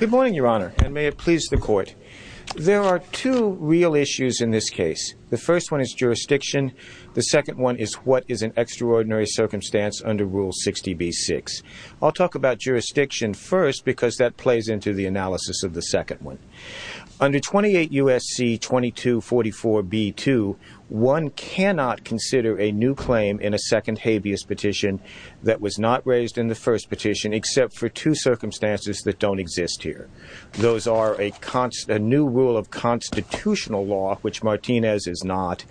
Good morning, your honor, and may it please the court. There are two real issues in this case. The first one is jurisdiction. The second one is what is an extraordinary circumstance under Rule 60b-6. I'll talk about jurisdiction first because that plays into the analysis of the second one. Under 28 U.S.C. 2244b-2, one cannot consider a new claim in a second habeas petition that was not raised in the first petition except for two circumstances that don't exist. Those are a new rule of constitutional law, which Martinez is not,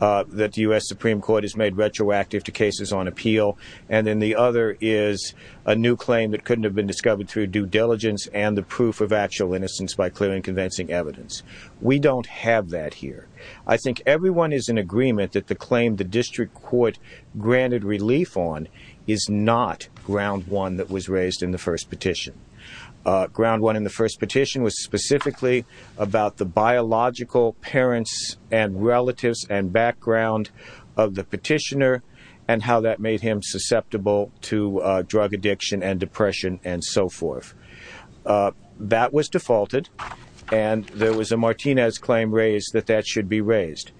that the U.S. Supreme Court has made retroactive to cases on appeal. And then the other is a new claim that couldn't have been discovered through due diligence and the proof of actual innocence by clear and convincing evidence. We don't have that here. I think everyone is in agreement that the claim the district court granted relief on is not ground one that was raised in the first petition. Ground one in the first petition was specifically about the biological parents and relatives and background of the petitioner and how that made him susceptible to drug addiction and depression and so forth. That was defaulted and there was a Martinez claim raised that that should be raised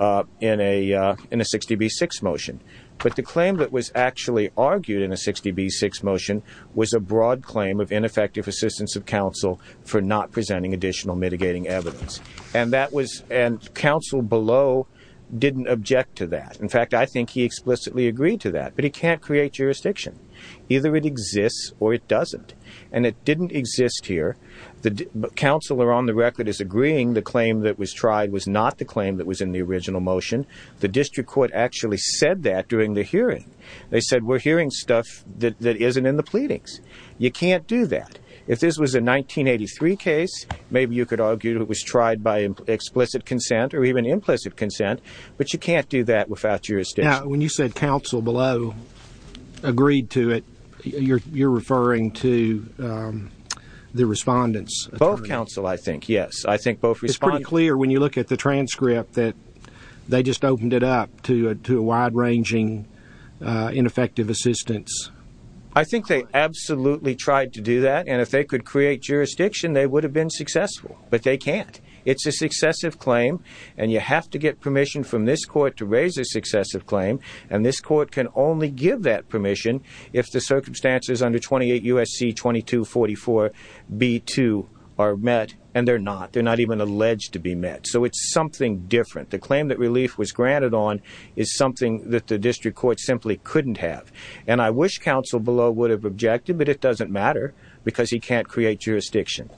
in a 60b-6 motion. But the claim that was actually argued in a 60b-6 motion was a broad claim of ineffective assistance of counsel for not presenting additional mitigating evidence. And counsel below didn't object to that. In fact, I think he explicitly agreed to that. But he can't create jurisdiction. Either it exists or it doesn't. And it didn't exist here. The counselor on the record is agreeing the claim that was tried was not the claim that was in the original motion. The district court actually said that during the hearing. They said we're hearing stuff that isn't in the pleadings. You can't do that. If this was a 1983 case, maybe you could argue it was tried by explicit consent or even implicit consent. But you can't do that without jurisdiction. When you said counsel below agreed to it, you're referring to the respondent's attorney. Both counsel, I think. Yes. It's pretty clear when you look at the transcript that they just opened it up to a wide-ranging ineffective assistance. I think they absolutely tried to do that. And if they could create jurisdiction, they would have been successful. But they can't. It's a successive claim. And you have to get permission from this court to raise a successive claim. And this court can only give that permission if the circumstances under 28 U.S.C. 2244b-2 are met. And they're not. They're not even alleged to be met. So it's something different. The claim that relief was granted on is something that the district court simply couldn't have. And I wish counsel below would have objected, but it doesn't matter because he can't create jurisdiction.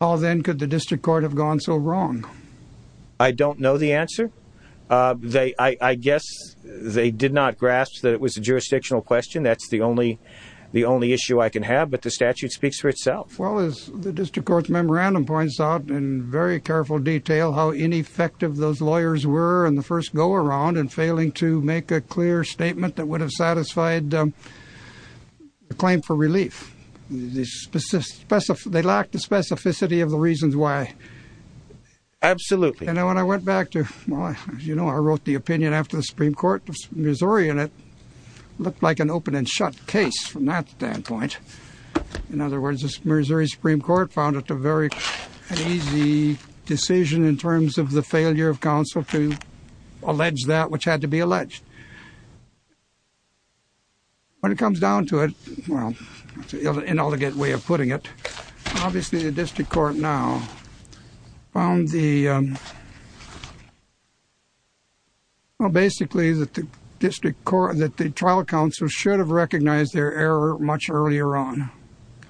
How then could the district court have gone so wrong? I don't know the answer. I guess they did not grasp that it was a jurisdictional question. That's the only issue I can have. But the statute speaks for itself. Well, as the district court's memorandum points out in very careful detail how ineffective those lawyers were in the first go-around in failing to make a clear statement that would have satisfied the claim for relief. They lacked the specificity of the reasons why. Absolutely. And then when I went back to, well, as you know, I wrote the opinion after the Supreme Court of Missouri and it looked like an open and shut case from that standpoint. In other words, the Missouri Supreme Court found it a very easy decision in terms of the failure of counsel to allege that which had to be alleged. When it comes down to it, well, that's an inelegant way of putting it. Obviously, the district court now found the, well, basically that the trial counsel should have recognized their error much earlier on.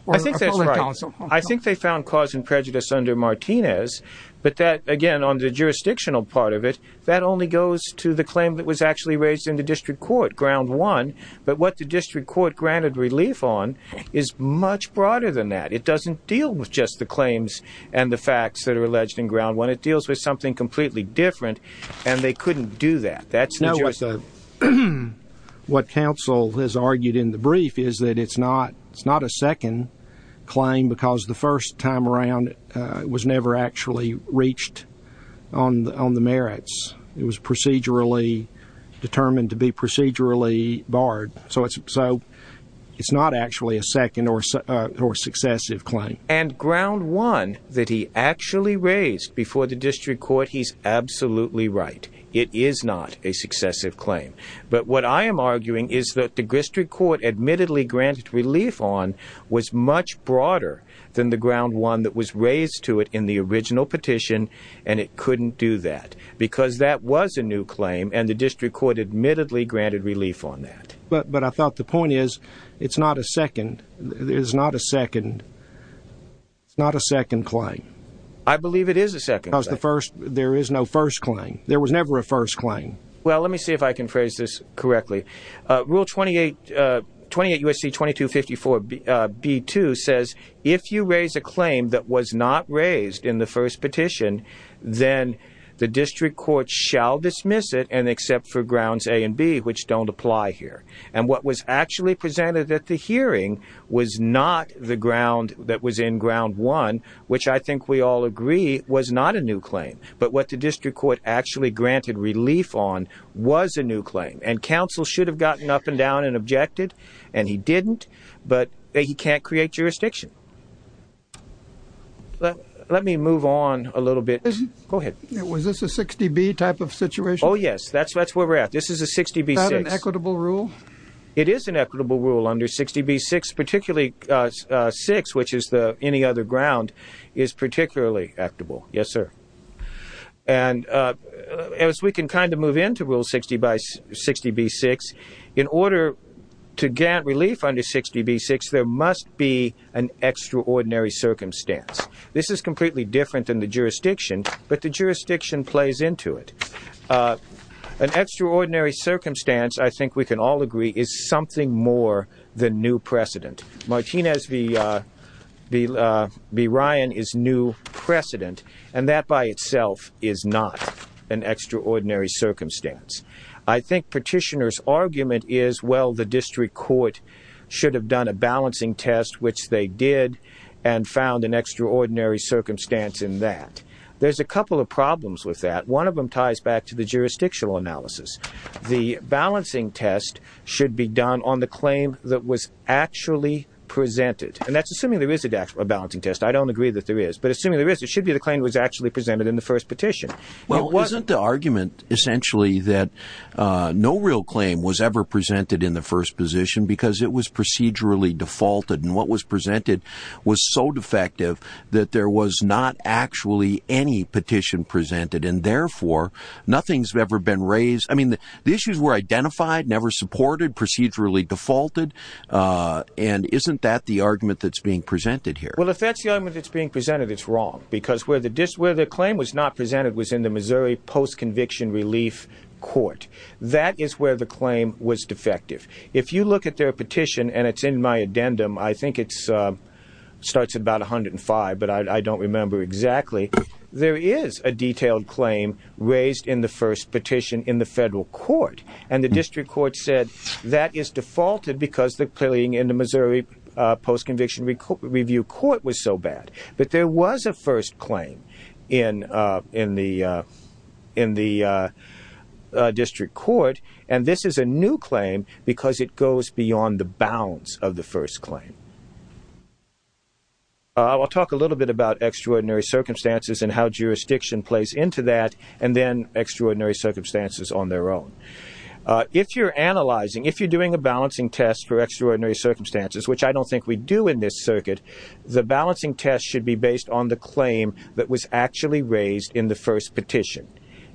I think that's right. I think they found cause and prejudice under Martinez. But that, again, on the jurisdictional part of it, that only goes to the claim that was actually raised in the district court, ground one. But what the district court granted relief on is much broader than that. It doesn't deal with just the claims and the facts that are alleged in ground one. It deals with something completely different. And they couldn't do that. What counsel has argued in the brief is that it's not a second claim because the first time around it was never actually reached on the merits. It was procedurally determined to be procedurally barred. So it's not actually a second or successive claim. And ground one that he actually raised before the district court, he's absolutely right. It is not a successive claim. But what I am arguing is that the district court admittedly granted relief on was much broader than the ground one that was raised to it in the original petition. And it couldn't do that because that was a new claim. And the district court admittedly granted relief on that. But I thought the point is it's not a second. It is not a second. It's not a second claim. I believe it is a second. There is no first claim. There was never a first claim. Well, let me see if I can phrase this correctly. Rule 28 U.S.C. 2254 B.2 says if you raise a claim that was not raised in the first petition, then the district court shall dismiss it and accept for grounds A and B, which don't apply here. And what was actually presented at the hearing was not the ground that was in ground one, which I think we all agree was not a new claim. But what the district court actually granted relief on was a new claim. And counsel should have gotten up and down and objected. And he didn't. But he can't create jurisdiction. Let me move on a little bit. Go ahead. Was this a 60B type of situation? Oh, yes. That's where we're at. This is a 60B. Is that an equitable rule? It is an equitable rule under 60B. Particularly 6, which is any other ground, is particularly equitable. Yes, sir. And as we can kind of move into Rule 60B.6, in order to grant relief under 60B.6, there must be an extraordinary circumstance. This is completely different than the jurisdiction, but the jurisdiction plays into it. An extraordinary circumstance, I think we can all agree, is something more than new precedent. Martinez v. Ryan is new precedent, and that by itself is not an extraordinary circumstance. I think petitioner's argument is, well, the district court should have done a balancing test, which they did, and found an extraordinary circumstance in that. There's a couple of problems with that. One of them ties back to the jurisdictional analysis. The balancing test should be done on the claim that was actually presented. And that's assuming there is a balancing test. I don't agree that there is. But assuming there is, it should be the claim that was actually presented in the first petition. Well, isn't the argument essentially that no real claim was ever presented in the first petition because it was procedurally defaulted, and what was presented was so defective that there was not actually any petition presented, and therefore, nothing's ever been raised. I mean, the issues were identified, never supported, procedurally defaulted, and isn't that the argument that's being presented here? Well, if that's the argument that's being presented, it's wrong, because where the claim was not presented was in the Missouri Post-Conviction Relief Court. That is where the claim was defective. If you look at their petition, and it's in my addendum, I think it starts at about 105, but I don't remember exactly, there is a detailed claim raised in the first petition in the federal court. And the district court said that is defaulted because the claim in the Missouri Post-Conviction Review Court was so bad. But there was a first claim in the district court, and this is a new claim because it goes beyond the bounds of the first claim. I'll talk a little bit about extraordinary circumstances and how jurisdiction plays into that, and then extraordinary circumstances on their own. If you're analyzing, if you're doing a balancing test for extraordinary circumstances, which I don't think we do in this circuit, the balancing test should be based on the claim that was actually raised in the first petition.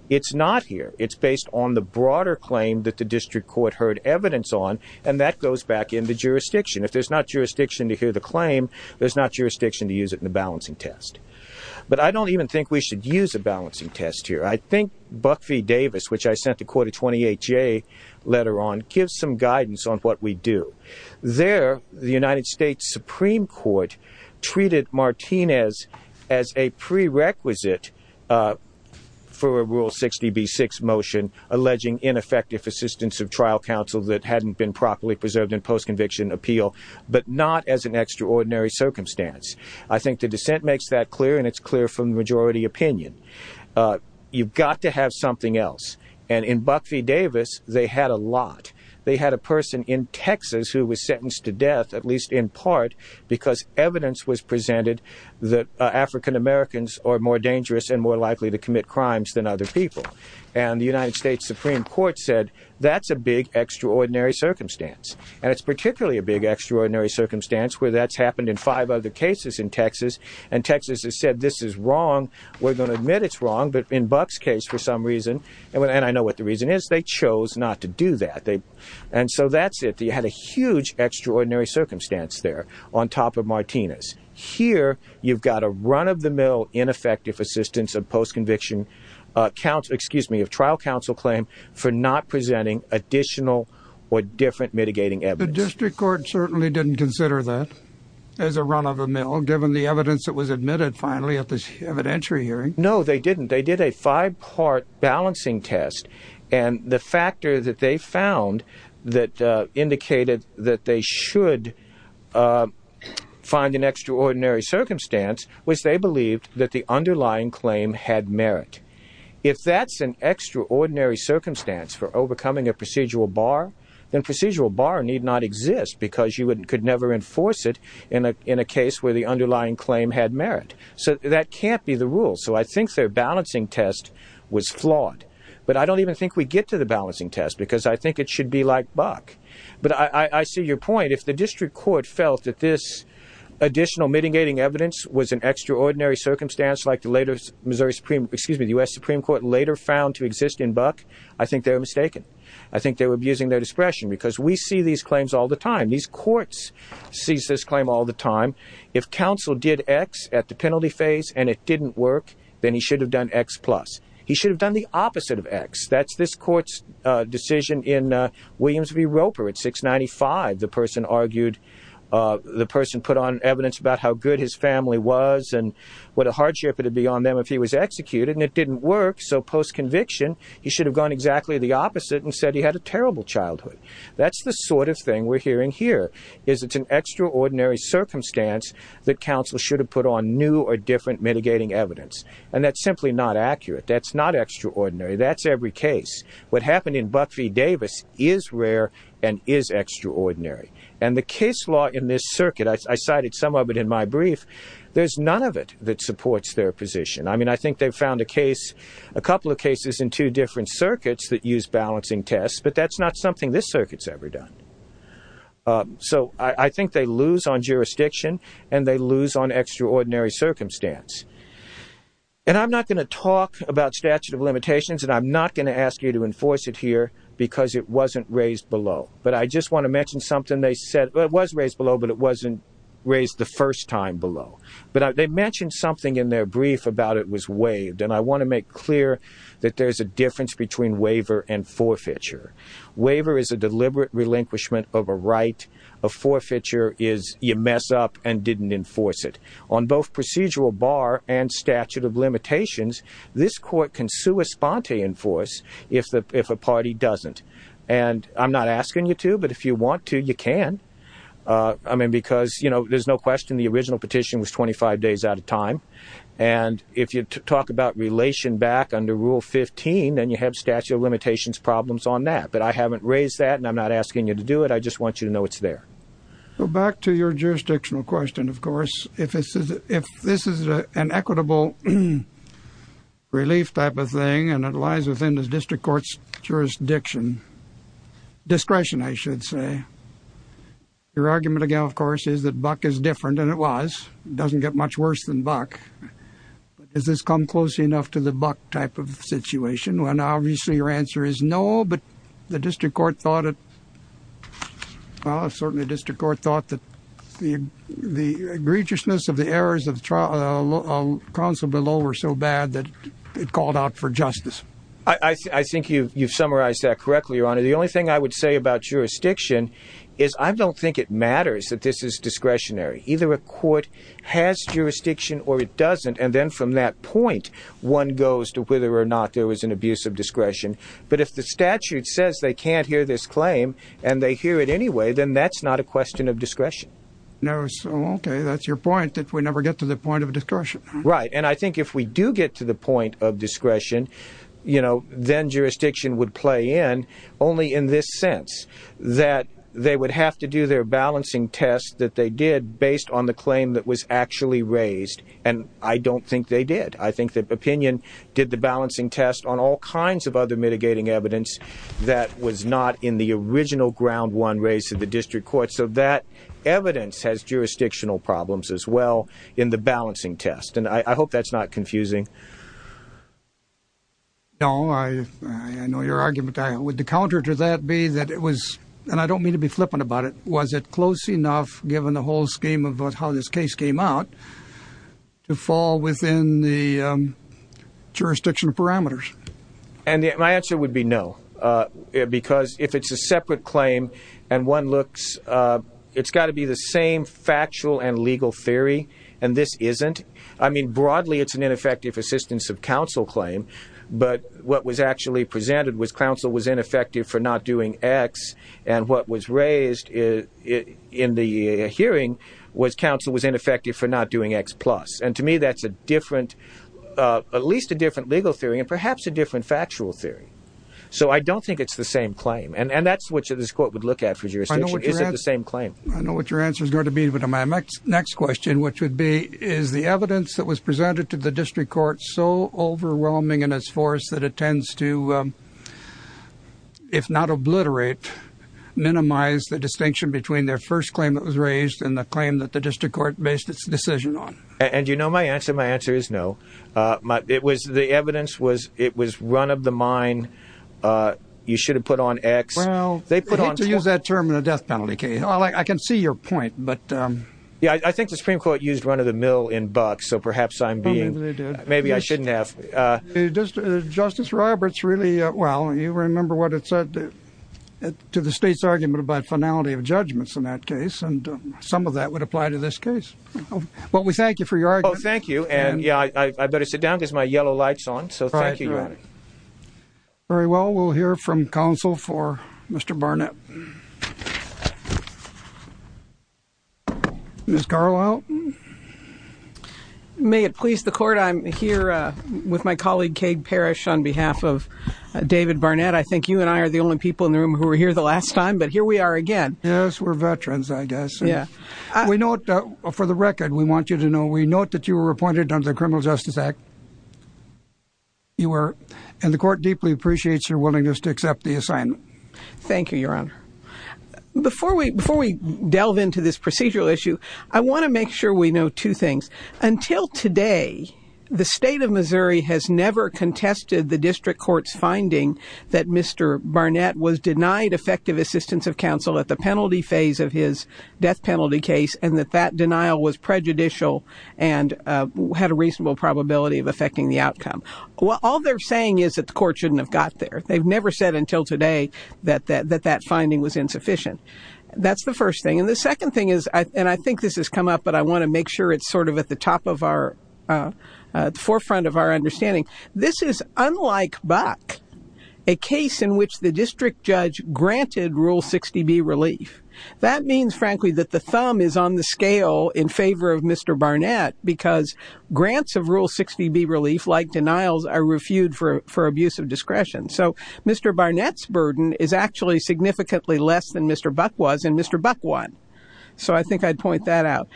It's not here. It's based on the broader claim that the district court heard evidence on, and that goes back in the jurisdiction. If there's not jurisdiction to hear the claim, there's not jurisdiction to use it in the balancing test. But I don't even think we should use a balancing test here. I think Buck v. Davis, which I sent to Court of 28J later on, gives some guidance on what we do. There, the United States Supreme Court treated Martinez as a prerequisite for a Rule 60b-6 motion alleging ineffective assistance of trial counsel that hadn't been properly preserved in post-conviction appeal, but not as an extraordinary circumstance. I think the dissent makes that clear, and it's clear from the majority opinion. You've got to have something else. And in Buck v. Davis, they had a lot. They had a person in Texas who was sentenced to death, at least in part, because evidence was presented that African Americans are more dangerous and more likely to commit crimes than other people. And the United States Supreme Court said, that's a big, extraordinary circumstance. And it's particularly a big, extraordinary circumstance where that's happened in five other cases in Texas, and Texas has said, this is wrong. We're going to admit it's wrong, but in Buck's case, for some reason, and I know what the reason is, they chose not to do that. And so that's it. They had a huge, extraordinary circumstance there on top of Martinez. Here, you've got a run-of-the-mill, ineffective assistance of trial counsel claim for not presenting additional or different mitigating evidence. The district court certainly didn't consider that as a run-of-the-mill, given the evidence that was admitted, finally, at this evidentiary hearing. No, they didn't. They did a five-part balancing test, and the factor that they found that indicated that they should find an extraordinary circumstance was they believed that the underlying claim had merit. If that's an extraordinary circumstance for overcoming a procedural bar, then procedural bar need not exist, because you could never enforce it in a case where the underlying claim had merit. So that can't be the rule. So I think their balancing test was flawed. But I don't even think we get to the balancing test, because I think it should be like Buck. But I see your point. If the district court felt that this additional mitigating evidence was an extraordinary circumstance, like the later Missouri Supreme, excuse me, the U.S. Supreme Court later found to exist in Buck, I think they were mistaken. I think they were abusing their discretion, because we see these claims all the time. These courts see this claim all the time. If counsel did X at the penalty phase and it didn't work, then he should have done X plus. He should have done the opposite of X. That's this court's decision in Williams v. Roper at 695. The person put on evidence about how good his family was and what a hardship it would be on them if he was executed, and it didn't work. So post-conviction, he should have gone exactly the opposite and said he had a terrible childhood. That's the sort of thing we're hearing here, is it's an extraordinary circumstance that counsel should have put on new or different mitigating evidence. And that's simply not accurate. That's not extraordinary. That's every case. What happened in Buck v. Davis is rare and is extraordinary. And the case law in this circuit, I cited some of it in my brief, there's none of it that supports their position. I mean, I think they've found a case, a couple of cases in two different circuits that use balancing tests, but that's not something this circuit's ever done. So I think they lose on jurisdiction and they lose on extraordinary circumstance. And I'm not going to talk about statute of limitations and I'm not going to ask you to enforce it here because it wasn't raised below. But I just want to mention something they said. It was raised below, but it wasn't raised the first time below. But they mentioned something in their brief about it was waived. And I want to make clear that there's a difference between waiver and forfeiture. Waiver is a deliberate relinquishment of a right. A forfeiture is you mess up and didn't enforce it. On both procedural bar and statute of limitations, this court can sua sponte enforce if a party doesn't. And I'm not asking you to, but if you want to, you can. I mean, because, you know, there's no question the original petition was 25 days at a time. And if you talk about relation back under Rule 15, then you have statute of limitations problems on that. But I haven't raised that and I'm not asking you to do it. I just want you to know it's there. Back to your jurisdictional question, of course. If this is an equitable relief type of thing and it lies within the district court's jurisdiction, discretion, I should say. Your argument again, of course, is that Buck is different than it was. It doesn't get much worse than Buck. But does this come close enough to the Buck type of situation when obviously your answer is no, but the district court thought it. Well, certainly the district court thought that the egregiousness of the errors of counsel below were so bad that it called out for justice. I think you've summarized that correctly, Your Honor. The only thing I would say about jurisdiction is I don't think it matters that this is discretionary. Either a court has jurisdiction or it doesn't. And then from that point, one goes to whether or not there was an abuse of discretion. But if the statute says they can't hear this claim and they hear it anyway, then that's not a question of discretion. No. Okay. That's your point, that we never get to the point of discretion. Right. And I think if we do get to the point of discretion, you know, then jurisdiction would play in only in this sense, that they would have to do their balancing test that they did based on the claim that was actually raised. And I don't think they did. I think that opinion did the balancing test on all kinds of other mitigating evidence that was not in the original ground one race of the district court. So that evidence has jurisdictional problems as well in the balancing test. And I hope that's not confusing. No, I know your argument. Would the counter to that be that it was and I don't mean to be flippant about it. Was it close enough, given the whole scheme of how this case came out, to fall within the jurisdiction parameters? And my answer would be no, because if it's a separate claim, and one looks, it's got to be the same factual and legal theory. And this isn't. I mean, broadly, it's an ineffective assistance of counsel claim. But what was actually presented was counsel was ineffective for not doing X. And what was raised in the hearing was counsel was ineffective for not doing X plus. And to me, that's a different, at least a different legal theory and perhaps a different factual theory. So I don't think it's the same claim. And that's what this court would look at for jurisdiction. Is it the same claim? I know what your answer is going to be to my next question, which would be, is the evidence that was presented to the district court so overwhelming in its force that it tends to, if not obliterate, minimize the distinction between their first claim that was raised and the claim that the district court based its decision on? And, you know, my answer, my answer is no. It was the evidence was it was run of the mine. You should have put on X. Well, they put on to use that term in a death penalty case. I can see your point, but. Yeah, I think the Supreme Court used run of the mill in bucks. So perhaps I'm being maybe I shouldn't have. Justice Roberts really. Well, you remember what it said to the state's argument about finality of judgments in that case. And some of that would apply to this case. Well, we thank you for your. Oh, thank you. And yeah, I better sit down because my yellow lights on. So thank you. Very well, we'll hear from counsel for Mr. Barnett. Miss Carlisle, may it please the court, I'm here with my colleague, Cade Parish, on behalf of David Barnett. I think you and I are the only people in the room who were here the last time. But here we are again. Yes, we're veterans, I guess. Yeah, we know. For the record, we want you to know we note that you were appointed under the Criminal Justice Act. You were. And the court deeply appreciates your willingness to accept the assignment. Thank you, Your Honor. Before we before we delve into this procedural issue, I want to make sure we know two things. Until today, the state of Missouri has never contested the district court's finding that Mr. Barnett was denied effective assistance of counsel at the penalty phase of his death penalty case. And that that denial was prejudicial and had a reasonable probability of affecting the outcome. Well, all they're saying is that the court shouldn't have got there. They've never said until today that that that that finding was insufficient. That's the first thing. And the second thing is, and I think this has come up, but I want to make sure it's sort of at the top of our forefront of our understanding. This is unlike Buck, a case in which the district judge granted Rule 60B relief. That means, frankly, that the thumb is on the scale in favor of Mr. Barnett because grants of Rule 60B relief like denials are refued for for abuse of discretion. So Mr. Barnett's burden is actually significantly less than Mr. Buck was and Mr. Buck won. So I think I'd point that out.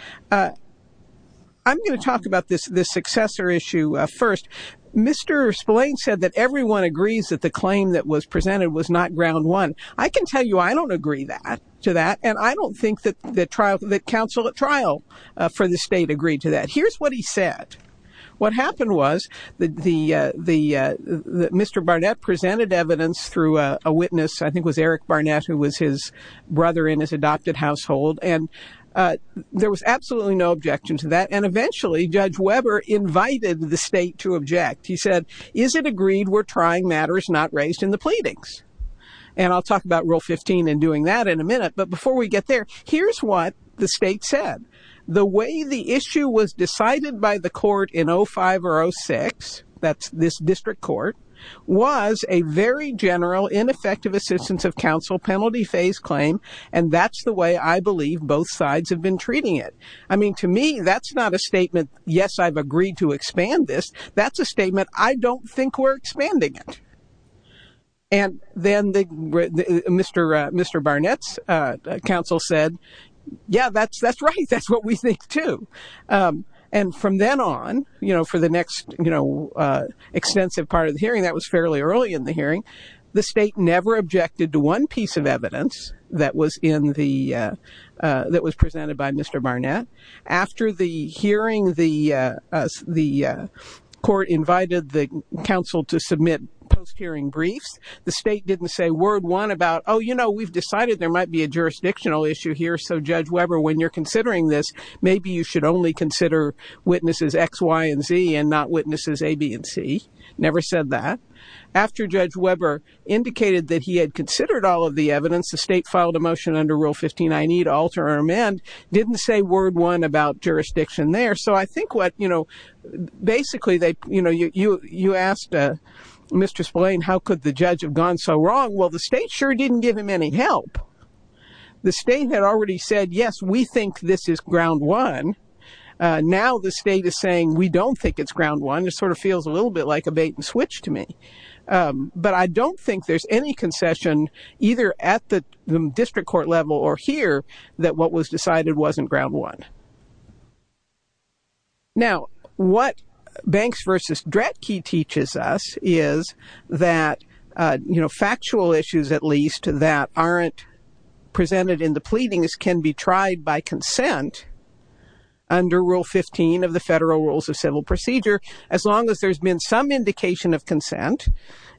I'm going to talk about this this successor issue first. Mr. Spillane said that everyone agrees that the claim that was presented was not ground one. I can tell you I don't agree that to that. And I don't think that the trial that counsel at trial for the state agreed to that. Here's what he said. What happened was that the the Mr. Barnett presented evidence through a witness, I think, was Eric Barnett, who was his brother in his adopted household. And there was absolutely no objection to that. And eventually, Judge Weber invited the state to object. He said, is it agreed we're trying matters not raised in the pleadings? And I'll talk about Rule 15 and doing that in a minute. But before we get there, here's what the state said. The way the issue was decided by the court in 05 or 06. That's this district court was a very general, ineffective assistance of counsel penalty phase claim. And that's the way I believe both sides have been treating it. I mean, to me, that's not a statement. Yes, I've agreed to expand this. That's a statement. I don't think we're expanding it. And then the Mr. Mr. Barnett's counsel said, yeah, that's that's right. That's what we think, too. And from then on, you know, for the next, you know, extensive part of the hearing, that was fairly early in the hearing. The state never objected to one piece of evidence that was in the that was presented by Mr. Barnett. After the hearing, the the court invited the counsel to submit post hearing briefs. The state didn't say word one about, oh, you know, we've decided there might be a jurisdictional issue here. So Judge Weber, when you're considering this, maybe you should only consider witnesses X, Y and Z and not witnesses A, B and C. Never said that. After Judge Weber indicated that he had considered all of the evidence, the state filed a motion under Rule 15. I need to alter or amend. Didn't say word one about jurisdiction there. So I think what you know, basically, you know, you you asked Mr. Spillane, how could the judge have gone so wrong? Well, the state sure didn't give him any help. The state had already said, yes, we think this is ground one. Now the state is saying we don't think it's ground one. It sort of feels a little bit like a bait and switch to me. But I don't think there's any concession either at the district court level or here that what was decided wasn't ground one. Now, what Banks versus Dretke teaches us is that, you know, factual issues, at least, that aren't presented in the pleadings can be tried by consent. Under Rule 15 of the Federal Rules of Civil Procedure, as long as there's been some indication of consent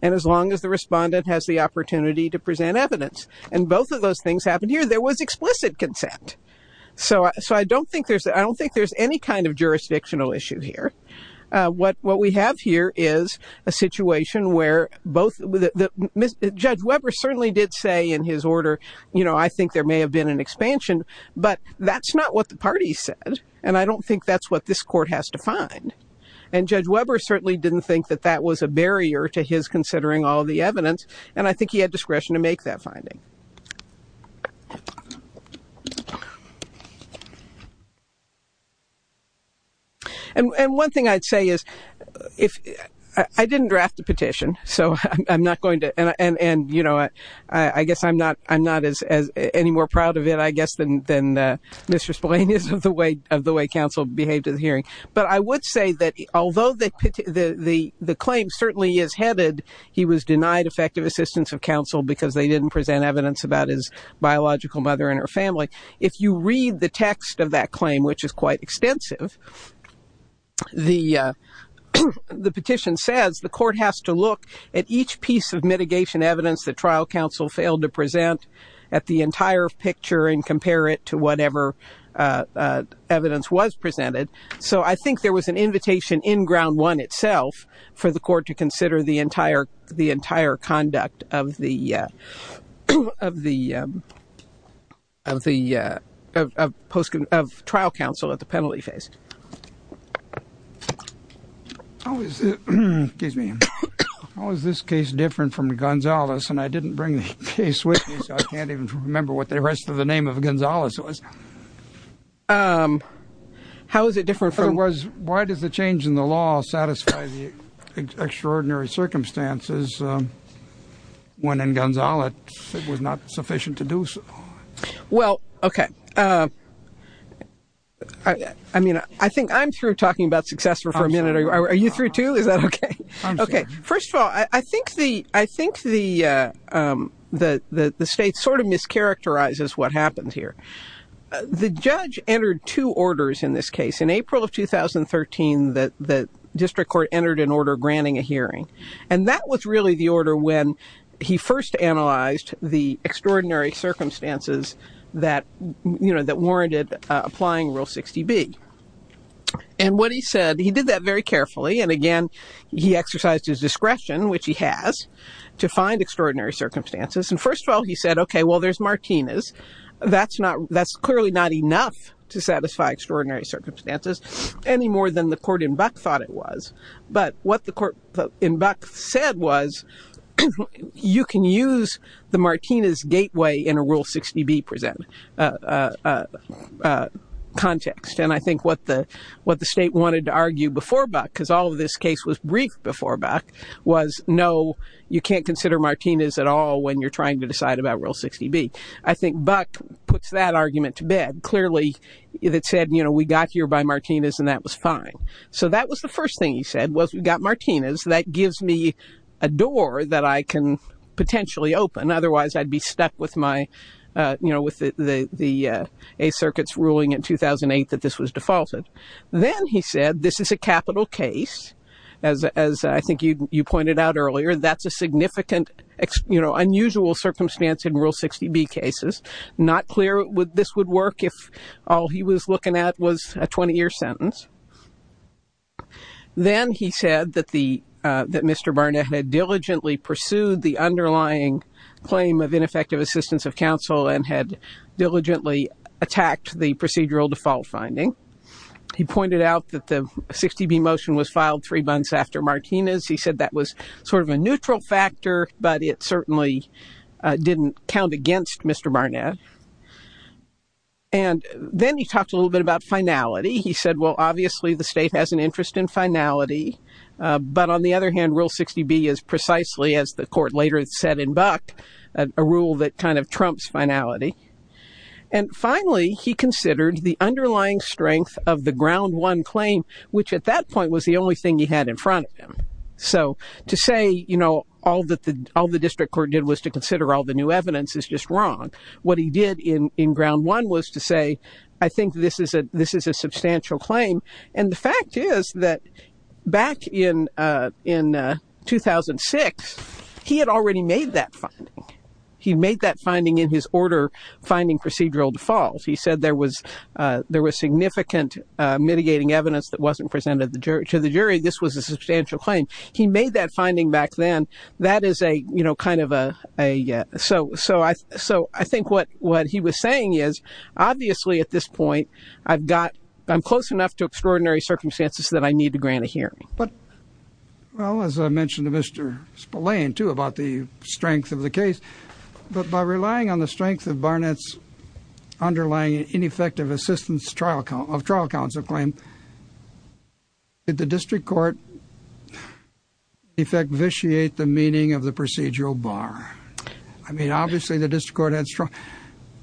and as long as the respondent has the opportunity to present evidence. And both of those things happened here. There was explicit consent. So so I don't think there's I don't think there's any kind of jurisdictional issue here. What what we have here is a situation where both the judge Webber certainly did say in his order, you know, I think there may have been an expansion. But that's not what the party said. And I don't think that's what this court has to find. And Judge Webber certainly didn't think that that was a barrier to his considering all the evidence. And I think he had discretion to make that finding. And one thing I'd say is if I didn't draft the petition, so I'm not going to. And, you know, I guess I'm not I'm not as any more proud of it, I guess, than than Mr. Blaine is of the way of the way counsel behaved in the hearing. But I would say that although the the the claim certainly is headed, he was denied effective assistance of counsel because they didn't present evidence about his biological mother and her family. If you read the text of that claim, which is quite extensive. The the petition says the court has to look at each piece of mitigation evidence that trial counsel failed to present at the entire picture and compare it to whatever evidence was presented. So I think there was an invitation in ground one itself for the court to consider the entire the entire conduct of the of the of the post of trial counsel at the penalty face. How is it gives me how is this case different from Gonzalez? And I didn't bring the case with me. I don't remember what the rest of the name of Gonzalez was. How is it different? It was. Why does the change in the law satisfy the extraordinary circumstances when in Gonzalez it was not sufficient to do so? Well, OK, I mean, I think I'm through talking about success for a minute. Is that OK? OK, first of all, I think the I think the the the the state sort of mischaracterizes what happens here. The judge entered two orders in this case in April of 2013 that the district court entered an order granting a hearing. And that was really the order when he first analyzed the extraordinary circumstances that warranted applying rule 60 B. And what he said, he did that very carefully. And again, he exercised his discretion, which he has to find extraordinary circumstances. And first of all, he said, OK, well, there's Martinez. That's not that's clearly not enough to satisfy extraordinary circumstances any more than the court in Buck thought it was. But what the court in Buck said was you can use the Martinez gateway in a rule 60 B present context. And I think what the what the state wanted to argue before Buck, because all of this case was brief before Buck was no, you can't consider Martinez at all when you're trying to decide about rule 60 B. I think Buck puts that argument to bed clearly that said, you know, we got here by Martinez and that was fine. So that was the first thing he said was we got Martinez. That gives me a door that I can potentially open. Otherwise, I'd be stuck with my, you know, with the the A circuit's ruling in 2008 that this was defaulted. Then he said this is a capital case, as I think you pointed out earlier, that's a significant, you know, unusual circumstance in rule 60 B cases. Not clear what this would work if all he was looking at was a 20 year sentence. Then he said that the that Mr. Barnett had diligently pursued the underlying claim of ineffective assistance of counsel and had diligently attacked the procedural default finding. He pointed out that the 60 B motion was filed three months after Martinez. He said that was sort of a neutral factor, but it certainly didn't count against Mr. Barnett. And then he talked a little bit about finality. He said, well, obviously, the state has an interest in finality. But on the other hand, rule 60 B is precisely, as the court later said in Buck, a rule that kind of trumps finality. And finally, he considered the underlying strength of the ground one claim, which at that point was the only thing he had in front of him. So to say, you know, all that all the district court did was to consider all the new evidence is just wrong. What he did in in ground one was to say, I think this is a this is a substantial claim. And the fact is that back in in 2006, he had already made that finding. He made that finding in his order finding procedural default. He said there was there was significant mitigating evidence that wasn't presented to the jury. This was a substantial claim. He made that finding back then. That is a, you know, kind of a. So so so I think what what he was saying is, obviously, at this point, I've got I'm close enough to extraordinary circumstances that I need to grant a hearing. But, well, as I mentioned to Mr. Spillane, too, about the strength of the case, but by relying on the strength of Barnett's underlying ineffective assistance trial of trial counsel claim. Did the district court effect vitiate the meaning of the procedural bar? I mean, obviously, the district court had strong,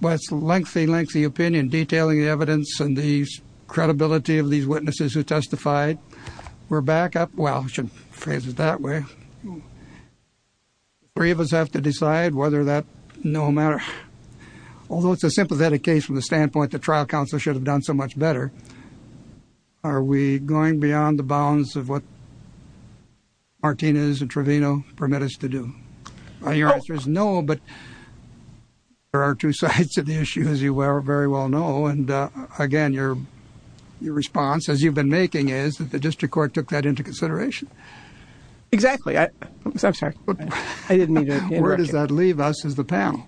but it's lengthy, lengthy opinion detailing the evidence and the credibility of these witnesses who testified were back up. Well, I should phrase it that way. Three of us have to decide whether that no matter. Although it's a sympathetic case from the standpoint, the trial counsel should have done so much better. Are we going beyond the bounds of what. Martinez and Trevino permit us to do. There's no, but there are two sides to the issue, as you are very well know. And again, your response, as you've been making is that the district court took that into consideration. Exactly. I'm sorry. I didn't mean to. Where does that leave us as the panel?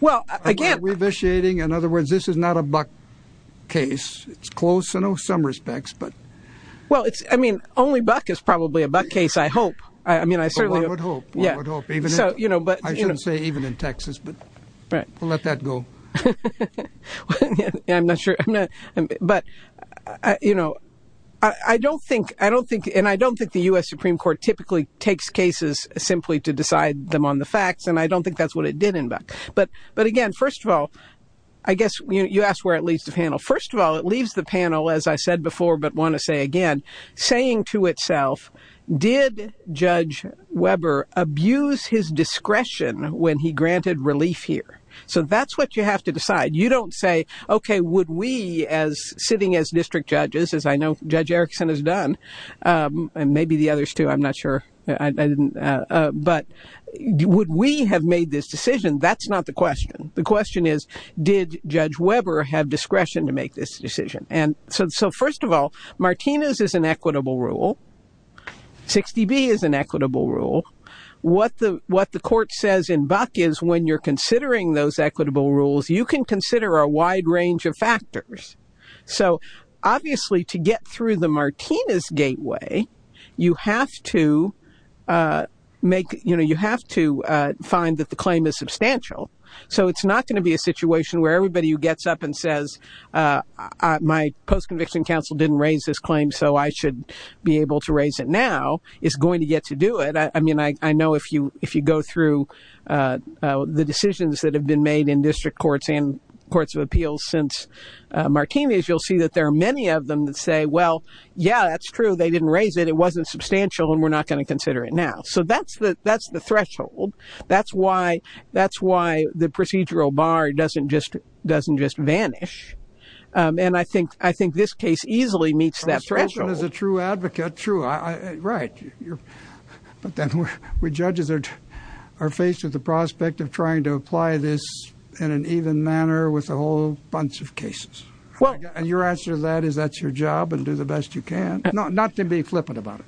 Well, again, we're vitiating. In other words, this is not a buck case. It's close in some respects, but well, it's I mean, only buck is probably a buck case, I hope. I mean, I certainly would hope. Yeah. So, you know, but I shouldn't say even in Texas, but let that go. I'm not sure. But, you know, I don't think I don't think and I don't think the U.S. Supreme Court typically takes cases simply to decide them on the facts. And I don't think that's what it did. But but again, first of all, I guess you asked where at least the panel. First of all, it leaves the panel, as I said before, but want to say again, saying to itself, did Judge Weber abuse his discretion when he granted relief here? So that's what you have to decide. You don't say, OK, would we as sitting as district judges, as I know Judge Erickson has done and maybe the others, too? I'm not sure I didn't. But would we have made this decision? That's not the question. The question is, did Judge Weber have discretion to make this decision? And so first of all, Martinez is an equitable rule. 60B is an equitable rule. What the what the court says in Buck is when you're considering those equitable rules, you can consider a wide range of factors. So obviously, to get through the Martinez gateway, you have to make you know, you have to find that the claim is substantial. So it's not going to be a situation where everybody who gets up and says my post conviction counsel didn't raise this claim, so I should be able to raise it now is going to get to do it. I mean, I know if you if you go through the decisions that have been made in district courts and courts of appeals since Martinez, you'll see that there are many of them that say, well, yeah, that's true. They didn't raise it. It wasn't substantial and we're not going to consider it now. So that's the that's the threshold. That's why that's why the procedural bar doesn't just doesn't just vanish. And I think I think this case easily meets that threshold as a true advocate. True. Right. But then we judges are faced with the prospect of trying to apply this in an even manner with a whole bunch of cases. Well, your answer to that is that's your job and do the best you can not to be flippant about it.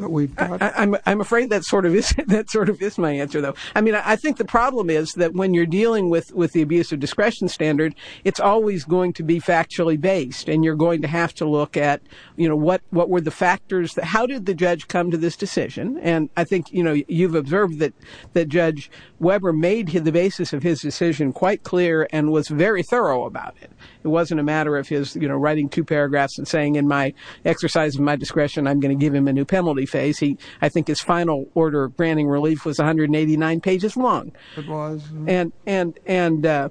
I'm afraid that sort of that sort of is my answer, though. I mean, I think the problem is that when you're dealing with with the abuse of discretion standard, it's always going to be factually based and you're going to have to look at, you know, what what were the factors that how did the judge come to this decision? And I think, you know, you've observed that that Judge Weber made the basis of his decision quite clear and was very thorough about it. It wasn't a matter of his writing two paragraphs and saying in my exercise, my discretion, I'm going to give him a new penalty phase. He I think his final order of granting relief was 189 pages long. It was. And and and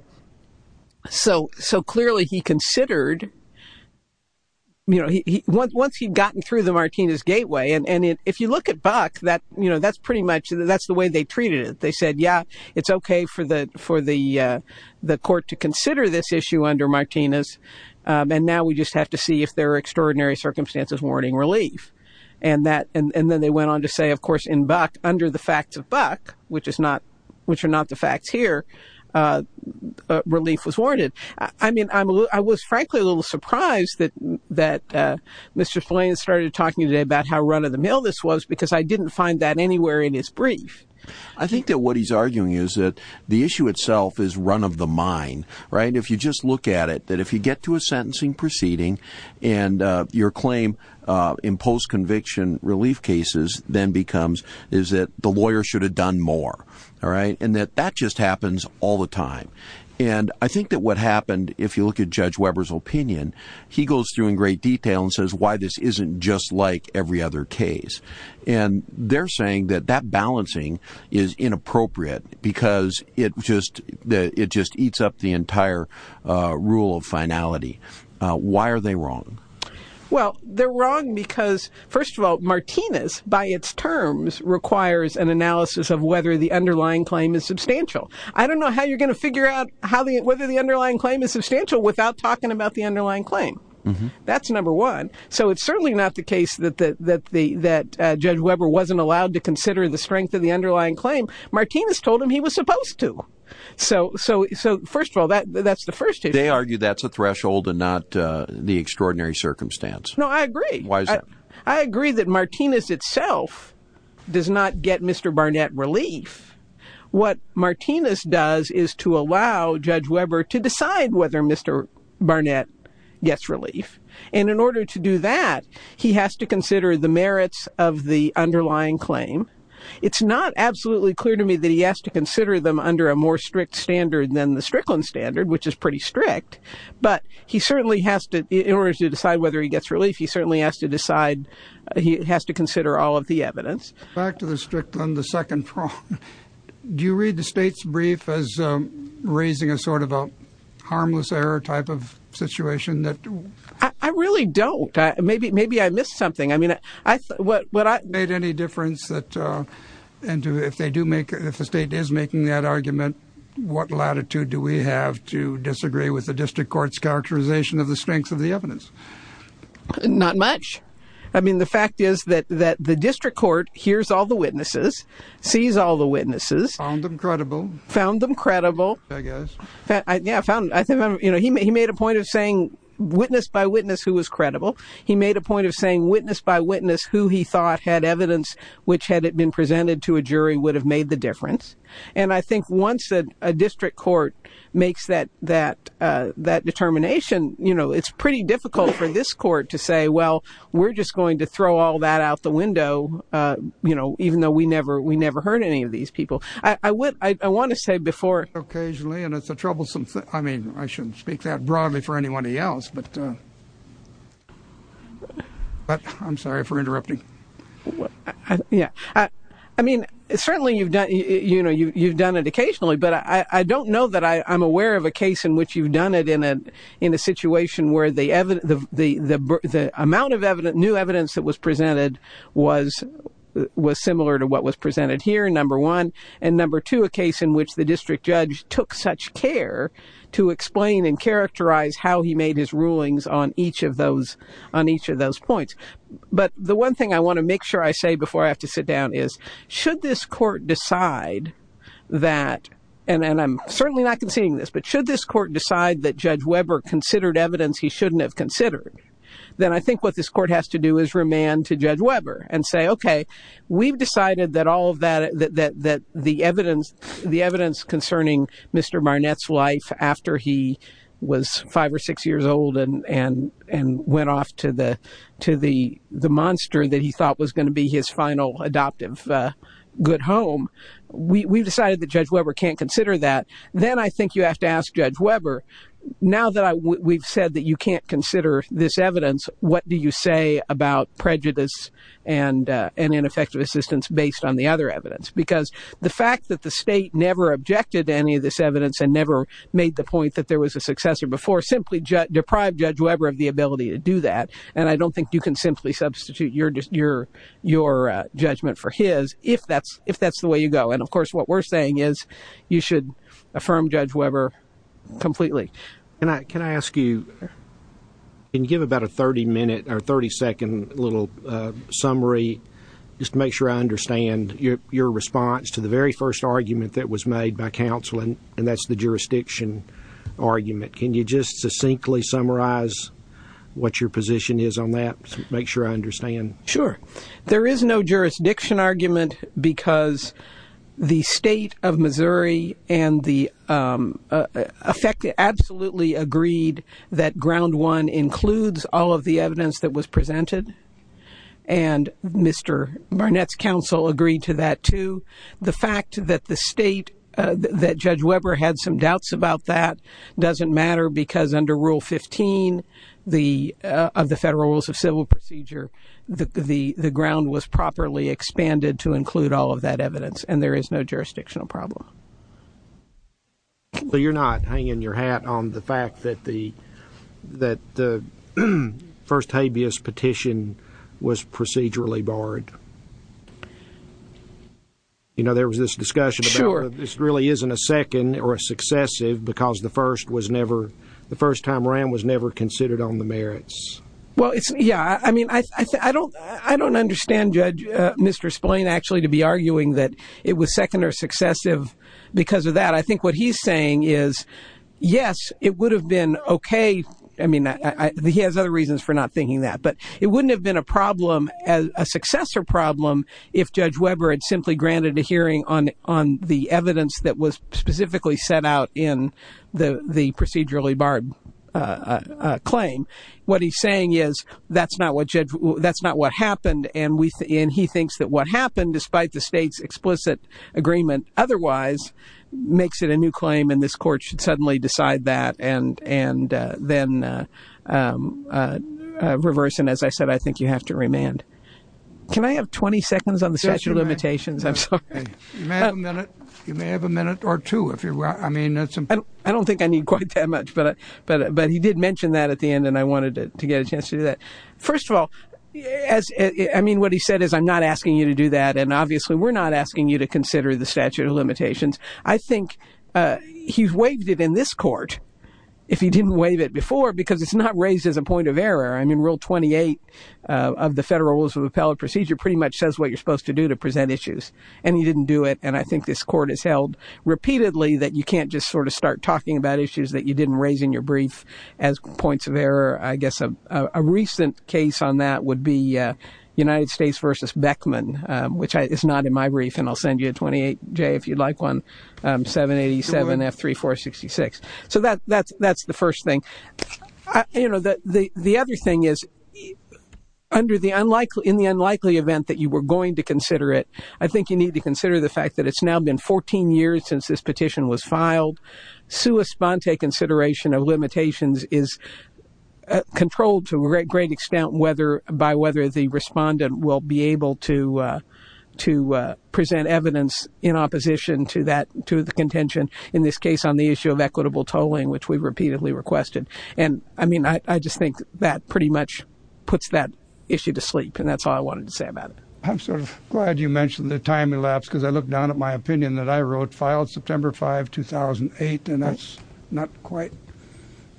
so so clearly he considered. You know, once he'd gotten through the Martinez gateway and if you look at Buck, that, you know, that's pretty much that's the way they treated it. They said, yeah, it's OK for the for the the court to consider this issue under Martinez. And now we just have to see if there are extraordinary circumstances warning relief and that. And then they went on to say, of course, in Buck, under the facts of Buck, which is not which are not the facts here. Relief was warranted. I mean, I was frankly a little surprised that that Mr. Flynn started talking about how run of the mill this was, because I didn't find that anywhere in his brief. I think that what he's arguing is that the issue itself is run of the mine. Right. If you just look at it, that if you get to a sentencing proceeding and your claim imposed conviction relief cases, then becomes is that the lawyer should have done more. All right. And that that just happens all the time. And I think that what happened, if you look at Judge Weber's opinion, he goes through in great detail and says why this isn't just like every other case. And they're saying that that balancing is inappropriate because it just it just eats up the entire rule of finality. Why are they wrong? Well, they're wrong because, first of all, Martinez, by its terms, requires an analysis of whether the underlying claim is substantial. I don't know how you're going to figure out how the whether the underlying claim is substantial without talking about the underlying claim. That's number one. So it's certainly not the case that that the that Judge Weber wasn't allowed to consider the strength of the underlying claim. Martinez told him he was supposed to. So. So. So, first of all, that that's the first. They argue that's a threshold and not the extraordinary circumstance. No, I agree. I agree that Martinez itself does not get Mr. Barnett relief. What Martinez does is to allow Judge Weber to decide whether Mr. Barnett gets relief. And in order to do that, he has to consider the merits of the underlying claim. It's not absolutely clear to me that he has to consider them under a more strict standard than the Strickland standard, which is pretty strict. But he certainly has to in order to decide whether he gets relief. He certainly has to decide he has to consider all of the evidence back to the Strickland. The second. Do you read the state's brief as raising a sort of a harmless error type of situation that I really don't? Maybe maybe I missed something. I mean, I what I made any difference that. And if they do make if the state is making that argument, what latitude do we have to disagree with the district court's characterization of the strength of the evidence? Not much. I mean, the fact is that that the district court hears all the witnesses, sees all the witnesses, found them credible, found them credible. I guess I found I think, you know, he made he made a point of saying witness by witness who was credible. He made a point of saying witness by witness who he thought had evidence which had been presented to a jury would have made the difference. And I think once a district court makes that that that determination, you know, it's pretty difficult for this court to say, well, we're just going to throw all that out the window. You know, even though we never we never heard any of these people, I would I want to say before occasionally. And it's a troublesome thing. I mean, I shouldn't speak that broadly for anybody else, but. But I'm sorry for interrupting. Yeah, I mean, certainly you've done you know, you've done it occasionally, but I don't know that I'm aware of a case in which you've done it in a in a situation where the the the the amount of new evidence that was presented was was similar to what was presented here. Number one and number two, a case in which the district judge took such care to explain and characterize how he made his rulings on each of those on each of those points. But the one thing I want to make sure I say before I have to sit down is should this court decide that and I'm certainly not conceding this, but should this court decide that Judge Weber considered evidence he shouldn't have considered? Then I think what this court has to do is remand to Judge Weber and say, OK, we've decided that all of that, that the evidence, the evidence concerning Mr. Barnett's life after he was five or six years old and and and went off to the to the the monster that he thought was going to be his final adoptive good home. We've decided that Judge Weber can't consider that. Then I think you have to ask Judge Weber. Now that we've said that you can't consider this evidence, what do you say about prejudice and and ineffective assistance based on the other evidence? Because the fact that the state never objected to any of this evidence and never made the point that there was a successor before simply deprived Judge Weber of the ability to do that. And I don't think you can simply substitute your your your judgment for his if that's if that's the way you go. And of course, what we're saying is you should affirm Judge Weber completely. And I can ask you and give about a 30 minute or 30 second little summary just to make sure I understand your response to the very first argument that was made by counseling. And that's the jurisdiction argument. Can you just succinctly summarize what your position is on that? Sure. There is no jurisdiction argument because the state of Missouri and the affected absolutely agreed that ground one includes all of the evidence that was presented. And Mr. Barnett's counsel agreed to that, too. The fact that the state that Judge Weber had some doubts about that doesn't matter because under Rule 15, the of the federal rules of civil procedure, the the the ground was properly expanded to include all of that evidence. And there is no jurisdictional problem. So you're not hanging your hat on the fact that the that the first habeas petition was procedurally barred. You know, there was this discussion. Sure. This really isn't a second or a successive because the first was never the first time around was never considered on the merits. Well, it's yeah. I mean, I don't I don't understand, Judge. Mr. Splane actually to be arguing that it was second or successive because of that. I think what he's saying is, yes, it would have been OK. I mean, he has other reasons for not thinking that, but it wouldn't have been a problem as a successor problem if Judge Weber had simply granted a hearing on on the evidence that was specifically set out in the procedurally barred claim. What he's saying is that's not what that's not what happened. And he thinks that what happened, despite the state's explicit agreement, otherwise makes it a new claim. And this court should suddenly decide that and and then reverse. And as I said, I think you have to remand. Can I have 20 seconds on the statute of limitations? You may have a minute or two if you're right. I mean, I don't think I need quite that much, but but but he did mention that at the end and I wanted to get a chance to do that. First of all, as I mean, what he said is I'm not asking you to do that. And obviously, we're not asking you to consider the statute of limitations. I think he's waived it in this court if he didn't waive it before, because it's not raised as a point of error. I mean, Rule 28 of the Federal Rules of Appellate Procedure pretty much says what you're supposed to do to present issues. And he didn't do it. And I think this court has held repeatedly that you can't just sort of start talking about issues that you didn't raise in your brief as points of error. I guess a recent case on that would be United States versus Beckman, which is not in my brief. And I'll send you a 28, Jay, if you'd like 1787F3466. So that's that's that's the first thing. You know, the other thing is under the unlikely in the unlikely event that you were going to consider it. I think you need to consider the fact that it's now been 14 years since this petition was filed. Sua sponte consideration of limitations is controlled to a great extent, whether by whether the respondent will be able to to present evidence in opposition to that, to the contention in this case on the issue of equitable tolling, which we repeatedly requested. And I mean, I just think that pretty much puts that issue to sleep. And that's all I wanted to say about it. I'm sort of glad you mentioned the time elapsed because I look down at my opinion that I wrote filed September 5, 2008, and that's not quite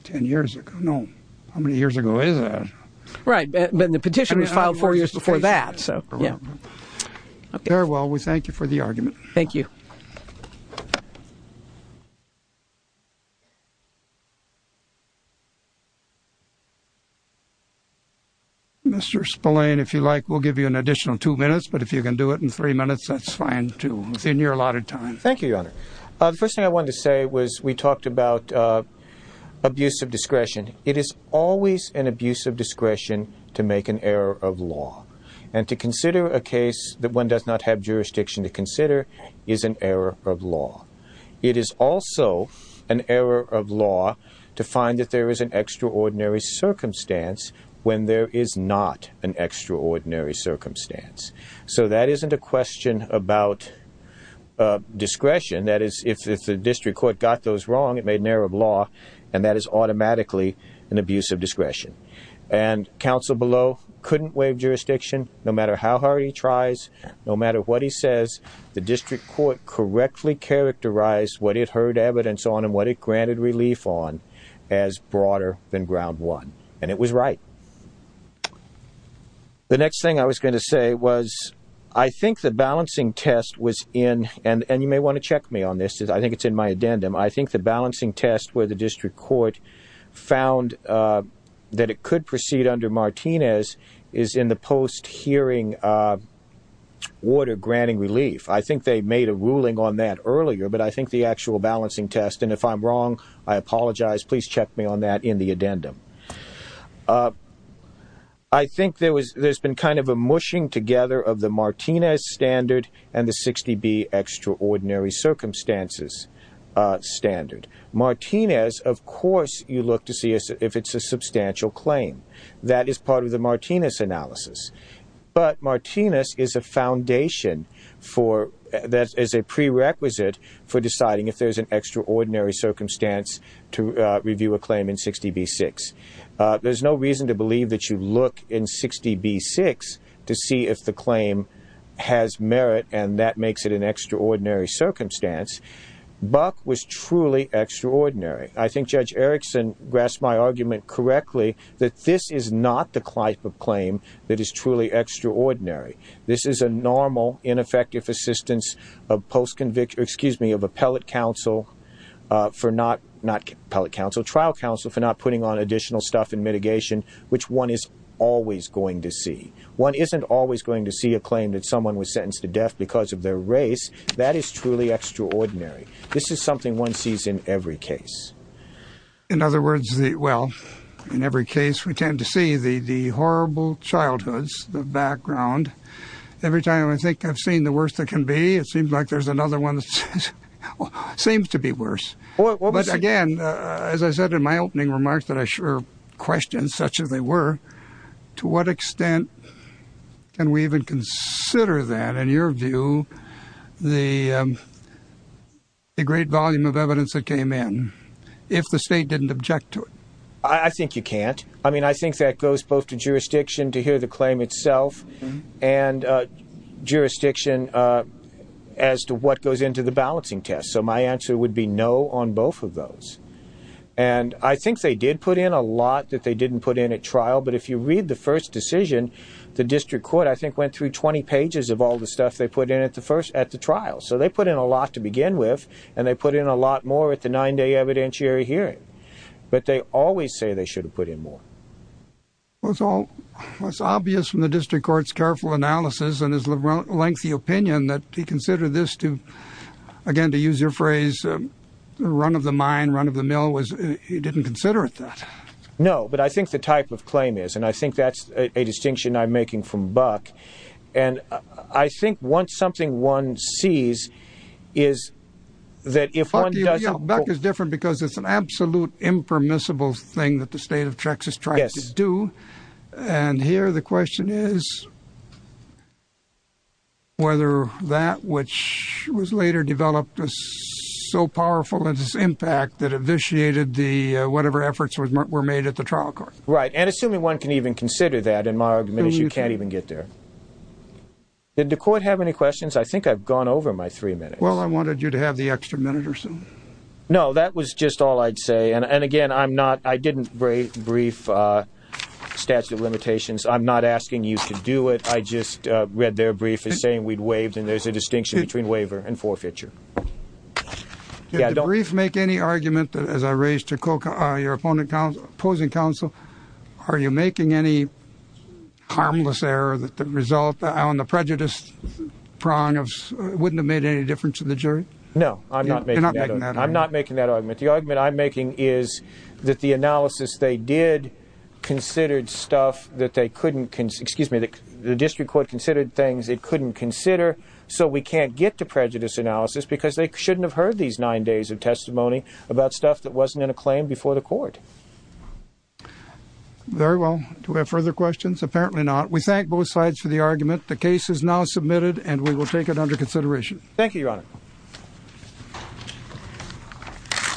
10 years ago. No. How many years ago is that? Right. But the petition was filed four years before that. So, yeah. Very well. We thank you for the argument. Thank you. Mr. Spillane, if you like, we'll give you an additional two minutes, but if you can do it in three minutes, that's fine, too. Within your allotted time. Thank you, Your Honor. First thing I want to say was we talked about abuse of discretion. It is always an abuse of discretion to make an error of law and to consider a case that one does not have jurisdiction to consider is an error of law. It is also an error of law to find that there is an extraordinary circumstance when there is not an extraordinary circumstance. So that isn't a question about discretion. That is, if the district court got those wrong, it made an error of law, and that is automatically an abuse of discretion. And counsel below couldn't waive jurisdiction, no matter how hard he tries, no matter what he says. The district court correctly characterized what it heard evidence on and what it granted relief on as broader than ground one. And it was right. The next thing I was going to say was I think the balancing test was in and you may want to check me on this. I think it's in my addendum. I think the balancing test where the district court found that it could proceed under Martinez is in the post hearing order granting relief. I think they made a ruling on that earlier, but I think the actual balancing test and if I'm wrong, I apologize. Please check me on that in the addendum. I think there's been kind of a mushing together of the Martinez standard and the 60B extraordinary circumstances standard. Martinez, of course, you look to see if it's a substantial claim. That is part of the Martinez analysis, but Martinez is a foundation that is a prerequisite for deciding if there's an extraordinary circumstance to review a claim in 60B-6. There's no reason to believe that you look in 60B-6 to see if the claim has merit and that makes it an extraordinary circumstance. Buck was truly extraordinary. I think Judge Erickson grasped my argument correctly that this is not the type of claim that is truly extraordinary. This is a normal, ineffective assistance of appellate counsel for not putting on additional stuff in mitigation, which one is always going to see. One isn't always going to see a claim that someone was sentenced to death because of their race. That is truly extraordinary. This is something one sees in every case. In other words, well, in every case we tend to see the horrible childhoods, the background. Every time I think I've seen the worst that can be, it seems like there's another one that seems to be worse. But again, as I said in my opening remarks that I sure questioned such as they were, to what extent can we even consider that, in your view, the great volume of evidence that came in if the state didn't object to it? I think you can't. I mean, I think that goes both to jurisdiction to hear the claim itself and jurisdiction as to what goes into the balancing test. So my answer would be no on both of those. And I think they did put in a lot that they didn't put in at trial. But if you read the first decision, the district court, I think, went through 20 pages of all the stuff they put in at the trial. So they put in a lot to begin with, and they put in a lot more at the nine-day evidentiary hearing. But they always say they should have put in more. Well, it's obvious from the district court's careful analysis and his lengthy opinion that he considered this to, again, to use your phrase, run of the mine, run of the mill. He didn't consider it that. No, but I think the type of claim is. And I think that's a distinction I'm making from Buck. And I think once something one sees is that if one does. Buck is different because it's an absolute impermissible thing that the state of Texas tried to do. And here the question is whether that which was later developed was so powerful in its impact that it vitiated whatever efforts were made at the trial court. Right. And assuming one can even consider that, in my argument, is you can't even get there. Did the court have any questions? I think I've gone over my three minutes. Well, I wanted you to have the extra minute or so. No, that was just all I'd say. And, again, I'm not – I didn't brief statute of limitations. I'm not asking you to do it. I just read their brief as saying we'd waived, and there's a distinction between waiver and forfeiture. Did the brief make any argument, as I raised to your opposing counsel, are you making any harmless error that the result on the prejudice prong wouldn't have made any difference to the jury? No, I'm not making that argument. You're not making that argument. I'm not making that argument. The argument I'm making is that the analysis they did considered stuff that they couldn't – excuse me, the district court considered things they couldn't consider, so we can't get to prejudice analysis because they shouldn't have heard these nine days of testimony about stuff that wasn't in a claim before the court. Very well. Do we have further questions? Apparently not. We thank both sides for the argument. The case is now submitted, and we will take it under consideration. Thank you, Your Honor.